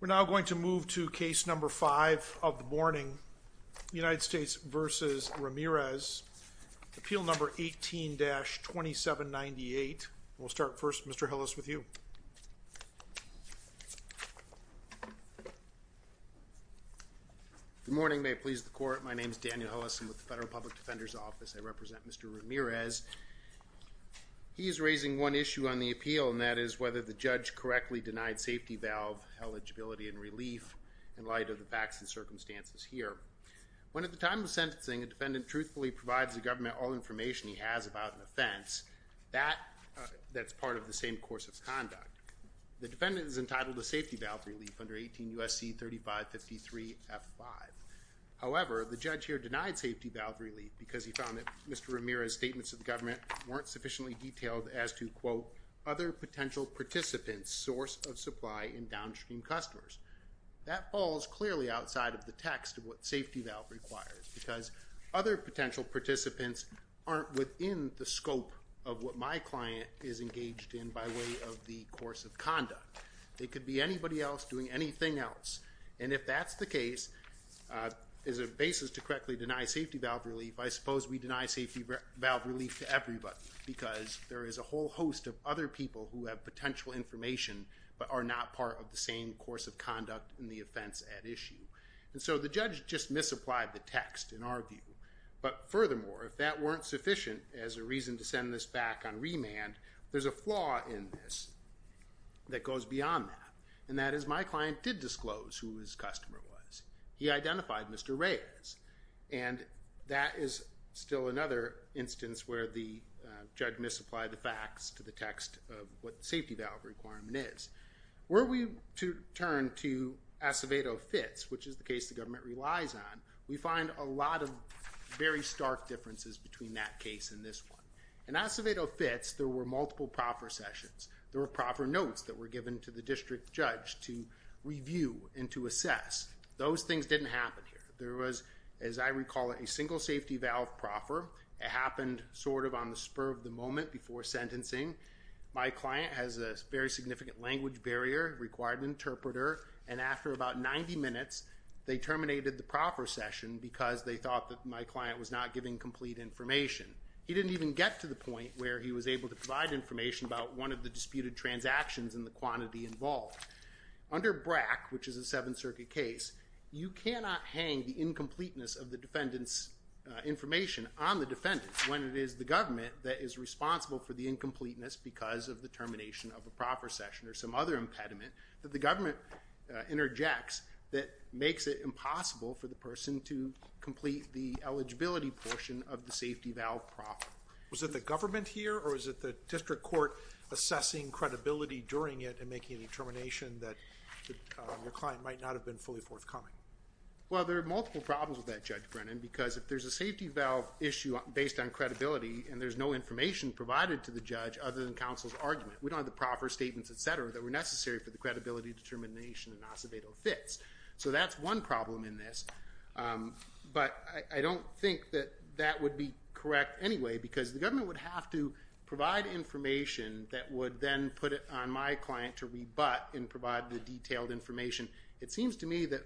We're now going to move to Case No. 5 of the morning, United States v. Ramirez, Appeal No. 18-2798. We'll start first, Mr. Hillis, with you. Good morning. May it please the Court. My name is Daniel Hillis. I'm with the Federal Public Defender's Office. I represent Mr. Ramirez. He is raising one issue on the appeal, and that is whether the judge correctly denied safety valve eligibility and relief in light of the facts and circumstances here. When, at the time of sentencing, a defendant truthfully provides the government all information he has about an offense, that's part of the same course of conduct. The defendant is entitled to safety valve relief under 18 U.S.C. 3553-F5. However, the judge here denied safety valve relief because he found that Mr. Ramirez's statements to the government weren't sufficiently detailed as to, quote, other potential participants' source of supply in downstream customers. That falls clearly outside of the text of what safety valve requires, because other potential participants aren't within the scope of what my client is engaged in by way of the course of conduct. It could be anybody else doing anything else, and if that's the case, as a basis to correctly deny safety valve relief, I suppose we deny safety valve relief to everybody because there is a whole host of other people who have potential information but are not part of the same course of conduct in the offense at issue. And so the judge just misapplied the text, in our view. But furthermore, if that weren't sufficient as a reason to send this back on remand, there's a flaw in this that goes beyond that, and that is my client did disclose who his customer was. He identified Mr. Ramirez, and that is still another instance where the judge misapplied the facts to the text of what safety valve requirement is. Were we to turn to Acevedo Fitz, which is the case the government relies on, we find a lot of very stark differences between that case and this one. In Acevedo Fitz, there were multiple proffer sessions. There were proffer notes that were given to the district judge to review and to assess. Those things didn't happen here. There was, as I recall, a single safety valve proffer. It happened sort of on the spur of the moment before sentencing. My client has a very significant language barrier, required an interpreter, and after about 90 minutes, they terminated the proffer session because they thought that my client was not giving complete information. He didn't even get to the point where he was able to provide information about one of the disputed transactions and the quantity involved. Under BRAC, which is a Seventh Circuit case, you cannot hang the incompleteness of the defendant's information on the defendant when it is the government that is responsible for the incompleteness because of the termination of a proffer session or some other impediment that the government interjects that makes it impossible for the person to complete the eligibility portion of the safety valve proffer. Was it the government here or was it the district court assessing credibility during it and making a determination that your client might not have been fully forthcoming? Well, there are multiple problems with that, Judge Brennan, because if there's a safety valve issue based on credibility and there's no information provided to the judge other than counsel's argument, we don't have the proffer statements, et cetera, that were necessary for the credibility determination and Acevedo fits. So that's one problem in this. But I don't think that that would be correct anyway because the government would have to provide information that would then put it on my client to rebut and provide the detailed information. It seems to me that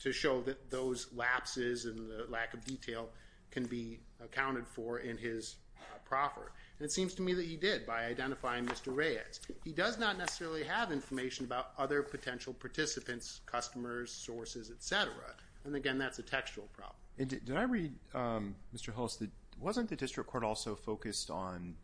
to show that those lapses and the lack of detail can be accounted for in his proffer. And it seems to me that he did by identifying Mr. Reyes. He does not necessarily have information about other potential participants, customers, sources, et cetera. And, again, that's a textual problem. Did I read, Mr. Hulse, wasn't the district court also focused on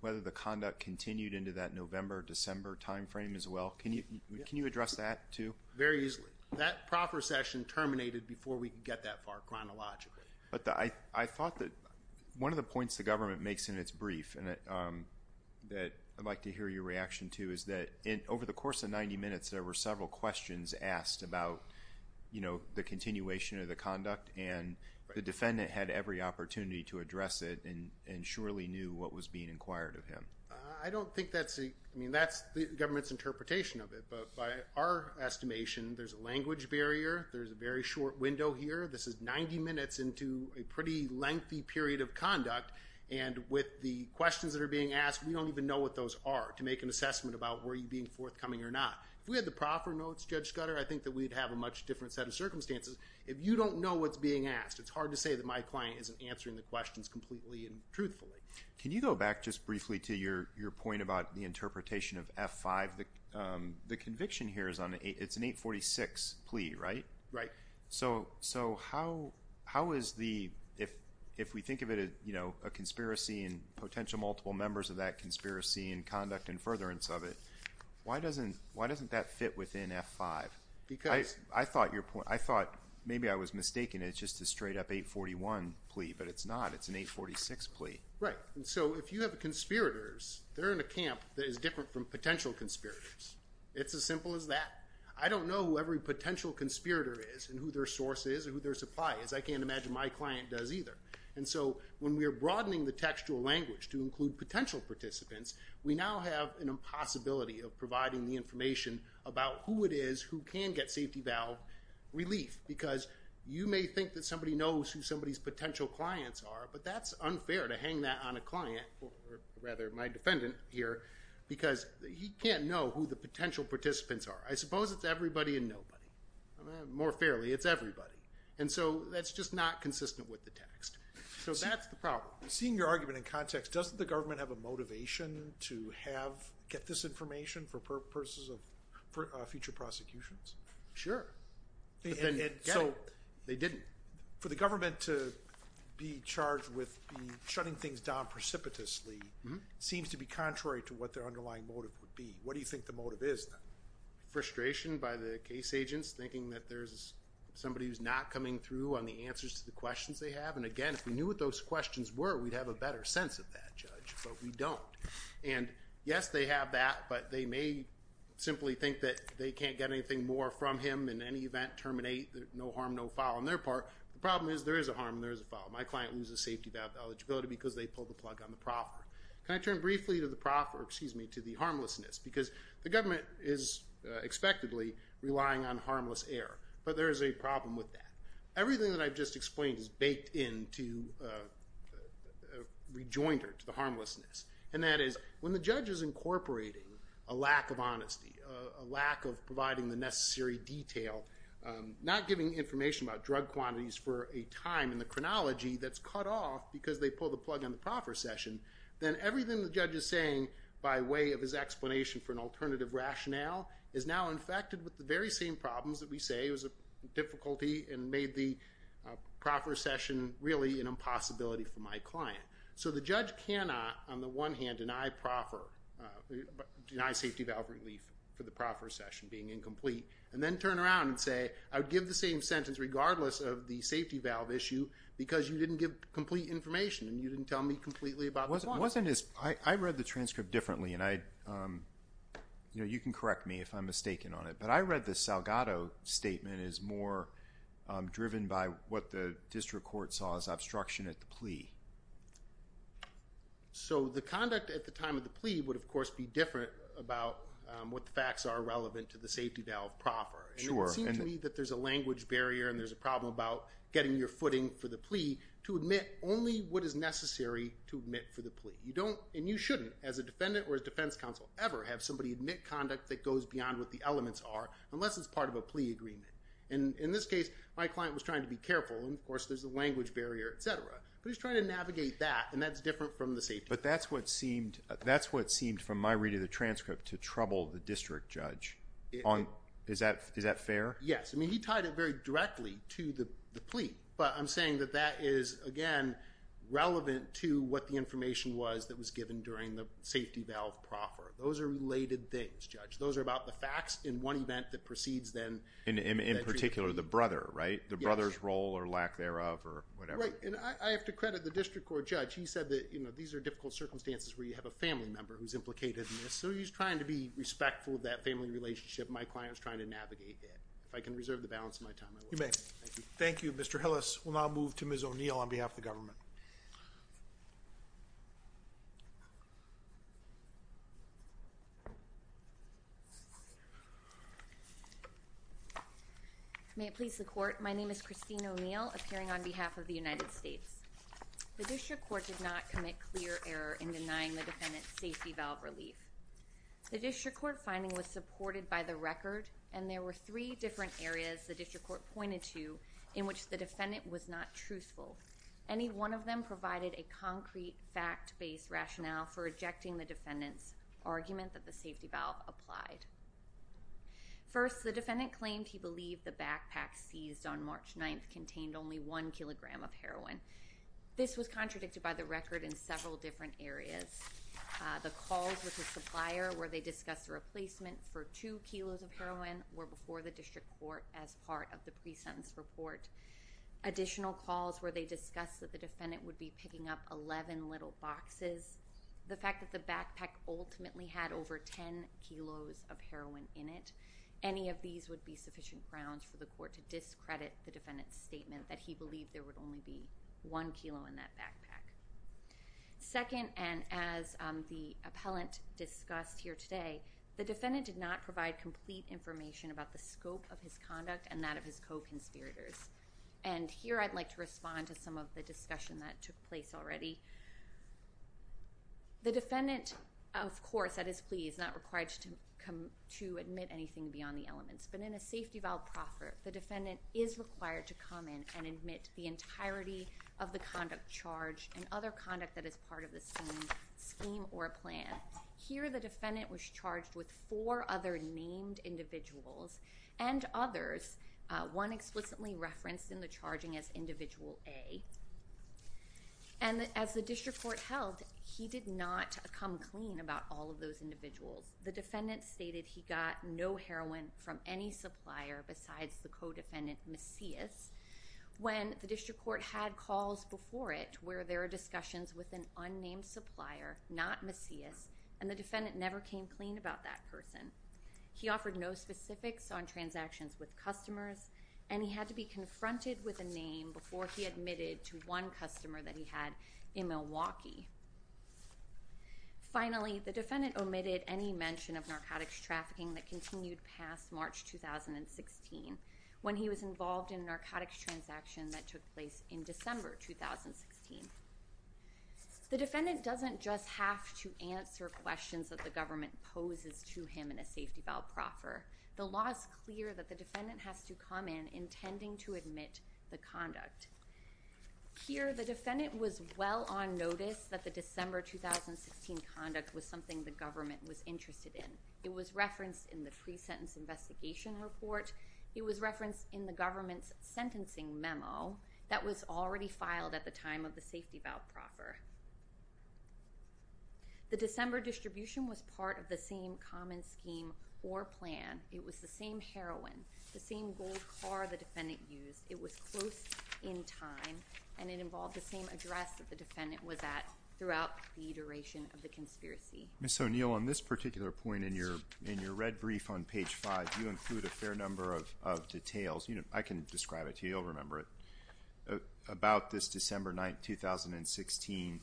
whether the conduct continued into that November, December time frame as well? Can you address that too? Very easily. That proffer session terminated before we could get that far chronologically. But I thought that one of the points the government makes in its brief that I'd like to hear your reaction to is that over the course of 90 minutes there were several questions asked about the continuation of the conduct and the defendant had every opportunity to address it and surely knew what was being inquired of him. I don't think that's the government's interpretation of it. But by our estimation, there's a language barrier. There's a very short window here. This is 90 minutes into a pretty lengthy period of conduct. And with the questions that are being asked, we don't even know what those are to make an assessment about were you being forthcoming or not. If we had the proffer notes, Judge Scudder, I think that we'd have a much different set of circumstances. If you don't know what's being asked, it's hard to say that my client isn't answering the questions completely and truthfully. Can you go back just briefly to your point about the interpretation of F5? The conviction here is an 846 plea, right? Right. So how is the – if we think of it as a conspiracy and potential multiple members of that conspiracy and conduct and furtherance of it, why doesn't that fit within F5? I thought maybe I was mistaken. It's just a straight up 841 plea, but it's not. It's an 846 plea. Right. So if you have conspirators, they're in a camp that is different from potential conspirators. It's as simple as that. I don't know who every potential conspirator is and who their source is and who their supply is. I can't imagine my client does either. And so when we are broadening the textual language to include potential participants, we now have an impossibility of providing the information about who it is who can get safety valve relief because you may think that somebody knows who somebody's potential clients are, but that's unfair to hang that on a client, or rather my defendant here, because he can't know who the potential participants are. I suppose it's everybody and nobody. More fairly, it's everybody. And so that's just not consistent with the text. So that's the problem. Seeing your argument in context, doesn't the government have a motivation to get this information for purposes of future prosecutions? Sure. They didn't. For the government to be charged with shutting things down precipitously seems to be contrary to what their underlying motive would be. What do you think the motive is then? Frustration by the case agents, thinking that there's somebody who's not coming through on the answers to the questions they have. And again, if we knew what those questions were, we'd have a better sense of that, Judge, but we don't. And yes, they have that, but they may simply think that they can't get anything more from him in any event, terminate, no harm, no foul on their part. The problem is there is a harm and there is a foul. My client loses safety valve eligibility because they pulled the plug on the proffer. Can I turn briefly to the harmlessness? Because the government is expectedly relying on harmless air, but there is a problem with that. Everything that I've just explained is baked into a rejoinder to the harmlessness, and that is, when the judge is incorporating a lack of honesty, a lack of providing the necessary detail, not giving information about drug quantities for a time in the chronology that's cut off because they pulled the plug on the proffer session, then everything the judge is saying by way of his explanation for an alternative rationale is now infected with the very same problems that we say was a difficulty and made the proffer session really an impossibility for my client. So the judge cannot, on the one hand, deny safety valve relief for the proffer session being incomplete and then turn around and say, I would give the same sentence regardless of the safety valve issue because you didn't give complete information and you didn't tell me completely about the proffer. I read the transcript differently, and you can correct me if I'm mistaken on it, but I read the Salgado statement as more driven by what the district court saw as obstruction at the plea. So the conduct at the time of the plea would, of course, be different about what the facts are relevant to the safety valve proffer. Sure. And it would seem to me that there's a language barrier and there's a problem about getting your footing for the plea to admit only what is necessary to admit for the plea. And you shouldn't, as a defendant or as defense counsel ever, have somebody admit conduct that goes beyond what the elements are unless it's part of a plea agreement. And in this case, my client was trying to be careful, and, of course, there's a language barrier, et cetera. But he's trying to navigate that, and that's different from the safety valve. But that's what seemed, from my reading of the transcript, to trouble the district judge. Is that fair? Yes. I mean, he tied it very directly to the plea, but I'm saying that that is, again, relevant to what the information was that was given during the safety valve proffer. Those are related things, Judge. Those are about the facts in one event that precedes then. In particular, the brother, right? The brother's role or lack thereof or whatever. Right, and I have to credit the district court judge. He said that these are difficult circumstances where you have a family member who's implicated in this, so he's trying to be respectful of that family relationship. If I can reserve the balance of my time, I will. You may. Thank you. Thank you, Mr. Hillis. We'll now move to Ms. O'Neill on behalf of the government. May it please the Court. My name is Christine O'Neill, appearing on behalf of the United States. The district court did not commit clear error in denying the defendant safety valve relief. The district court finding was supported by the record, and there were three different areas the district court pointed to in which the defendant was not truthful. Any one of them provided a concrete fact-based rationale for rejecting the defendant's argument that the safety valve applied. First, the defendant claimed he believed the backpack seized on March 9th contained only one kilogram of heroin. This was contradicted by the record in several different areas. The calls with the supplier where they discussed a replacement for two kilos of heroin were before the district court as part of the pre-sentence report. Additional calls where they discussed that the defendant would be picking up 11 little boxes, the fact that the backpack ultimately had over 10 kilos of heroin in it, any of these would be sufficient grounds for the court to discredit the defendant's statement that he believed there would only be one kilo in that backpack. Second, and as the appellant discussed here today, the defendant did not provide complete information about the scope of his conduct and that of his co-conspirators. And here I'd like to respond to some of the discussion that took place already. The defendant, of course, at his plea, is not required to admit anything beyond the elements. But in a safety valve proffer, the defendant is required to come in and admit the entirety of the conduct charged and other conduct that is part of the same scheme or plan. Here the defendant was charged with four other named individuals and others, one explicitly referenced in the charging as Individual A. And as the district court held, he did not come clean about all of those individuals. The defendant stated he got no heroin from any supplier besides the co-defendant, Macias, when the district court had calls before it where there are discussions with an unnamed supplier, not Macias, and the defendant never came clean about that person. He offered no specifics on transactions with customers, and he had to be confronted with a name before he admitted to one customer that he had in Milwaukee. Finally, the defendant omitted any mention of narcotics trafficking that continued past March 2016 when he was involved in a narcotics transaction that took place in December 2016. The defendant doesn't just have to answer questions that the government poses to him in a safety valve proffer. The law is clear that the defendant has to come in intending to admit the conduct. Here the defendant was well on notice that the December 2016 conduct was something the government was interested in. It was referenced in the pre-sentence investigation report, it was referenced in the government's sentencing memo that was already filed at the time of the safety valve proffer. The December distribution was part of the same common scheme or plan. It was the same heroin, the same gold car the defendant used. It was close in time, and it involved the same address that the defendant was at throughout the duration of the conspiracy. Ms. O'Neill, on this particular point in your red brief on page 5, you include a fair number of details. I can describe it to you, you'll remember it. About this December 9, 2016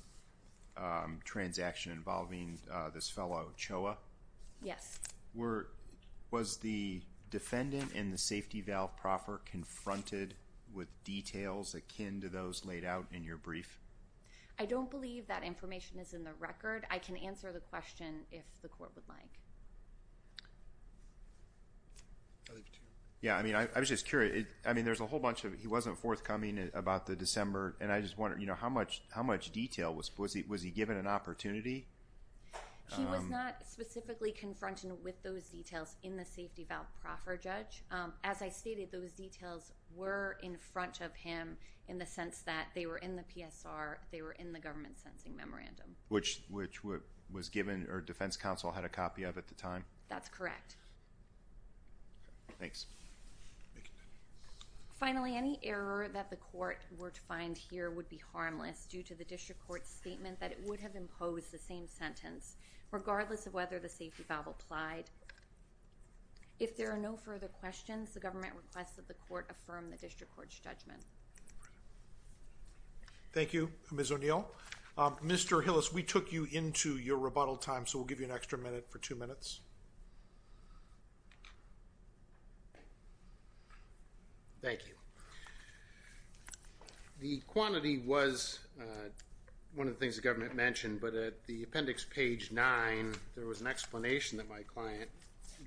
transaction involving this fellow, Choa. Yes. Was the defendant in the safety valve proffer confronted with details akin to those laid out in your brief? I don't believe that information is in the record. I can answer the question if the court would like. Yeah, I mean, I was just curious. I mean, there's a whole bunch of it. He wasn't forthcoming about the December, and I just wonder, you know, how much detail? Was he given an opportunity? He was not specifically confronted with those details in the safety valve proffer, Judge. As I stated, those details were in front of him in the sense that they were in the PSR, they were in the government's sentencing memorandum. Which was given or Defense Counsel had a copy of at the time? That's correct. Thanks. Finally, any error that the court were to find here would be harmless due to the district court's statement that it would have imposed the same sentence, regardless of whether the safety valve applied. If there are no further questions, the government requests that the court affirm the district court's judgment. Thank you, Ms. O'Neill. Mr. Hillis, we took you into your rebuttal time, so we'll give you an extra minute for two minutes. Thank you. The quantity was one of the things the government mentioned, but at the appendix page 9, there was an explanation that my client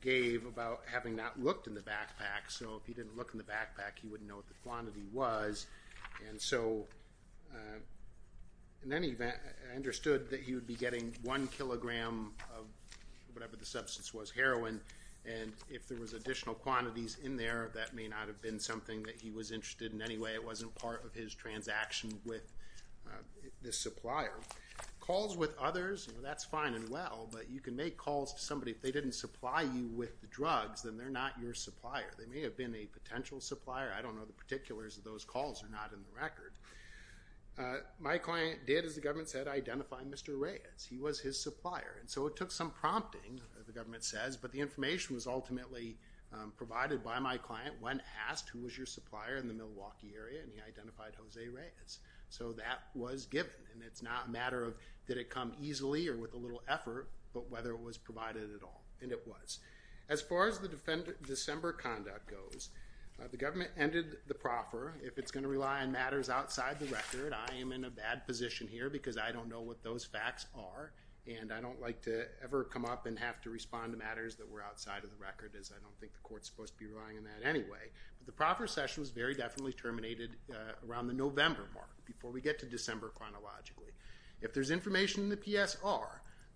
gave about having not looked in the backpack. So if he didn't look in the backpack, he wouldn't know what the quantity was. And so in any event, I understood that he would be getting one kilogram of whatever the substance was, heroin. And if there was additional quantities in there, that may not have been something that he was interested in anyway. It wasn't part of his transaction with the supplier. Calls with others, that's fine and well, but you can make calls to somebody. If they didn't supply you with the drugs, then they're not your supplier. They may have been a potential supplier. I don't know the particulars of those calls are not in the record. My client did, as the government said, identify Mr. Reyes. He was his supplier. And so it took some prompting, the government says, but the information was ultimately provided by my client when asked, who was your supplier in the Milwaukee area, and he identified Jose Reyes. So that was given, and it's not a matter of did it come easily or with a little effort, but whether it was provided at all, and it was. As far as the December conduct goes, the government ended the proffer. If it's going to rely on matters outside the record, I am in a bad position here because I don't know what those facts are, and I don't like to ever come up and have to respond to matters that were outside of the record, as I don't think the court's supposed to be relying on that anyway. But the proffer session was very definitely terminated around the November mark, before we get to December chronologically. If there's information in the PSR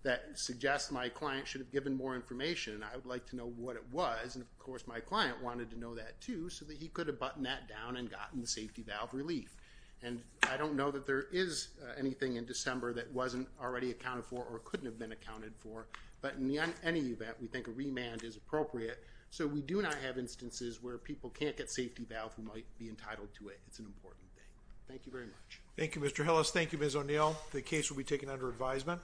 that suggests my client should have given more information, and I would like to know what it was, and of course my client wanted to know that too, so that he could have buttoned that down and gotten the safety valve relief. And I don't know that there is anything in December that wasn't already accounted for or couldn't have been accounted for, but in any event, we think a remand is appropriate. So we do not have instances where people can't get safety valve who might be entitled to it. It's an important thing. Thank you very much. Thank you, Mr. Hillis. Thank you, Ms. O'Neill. The case will be taken under advisement.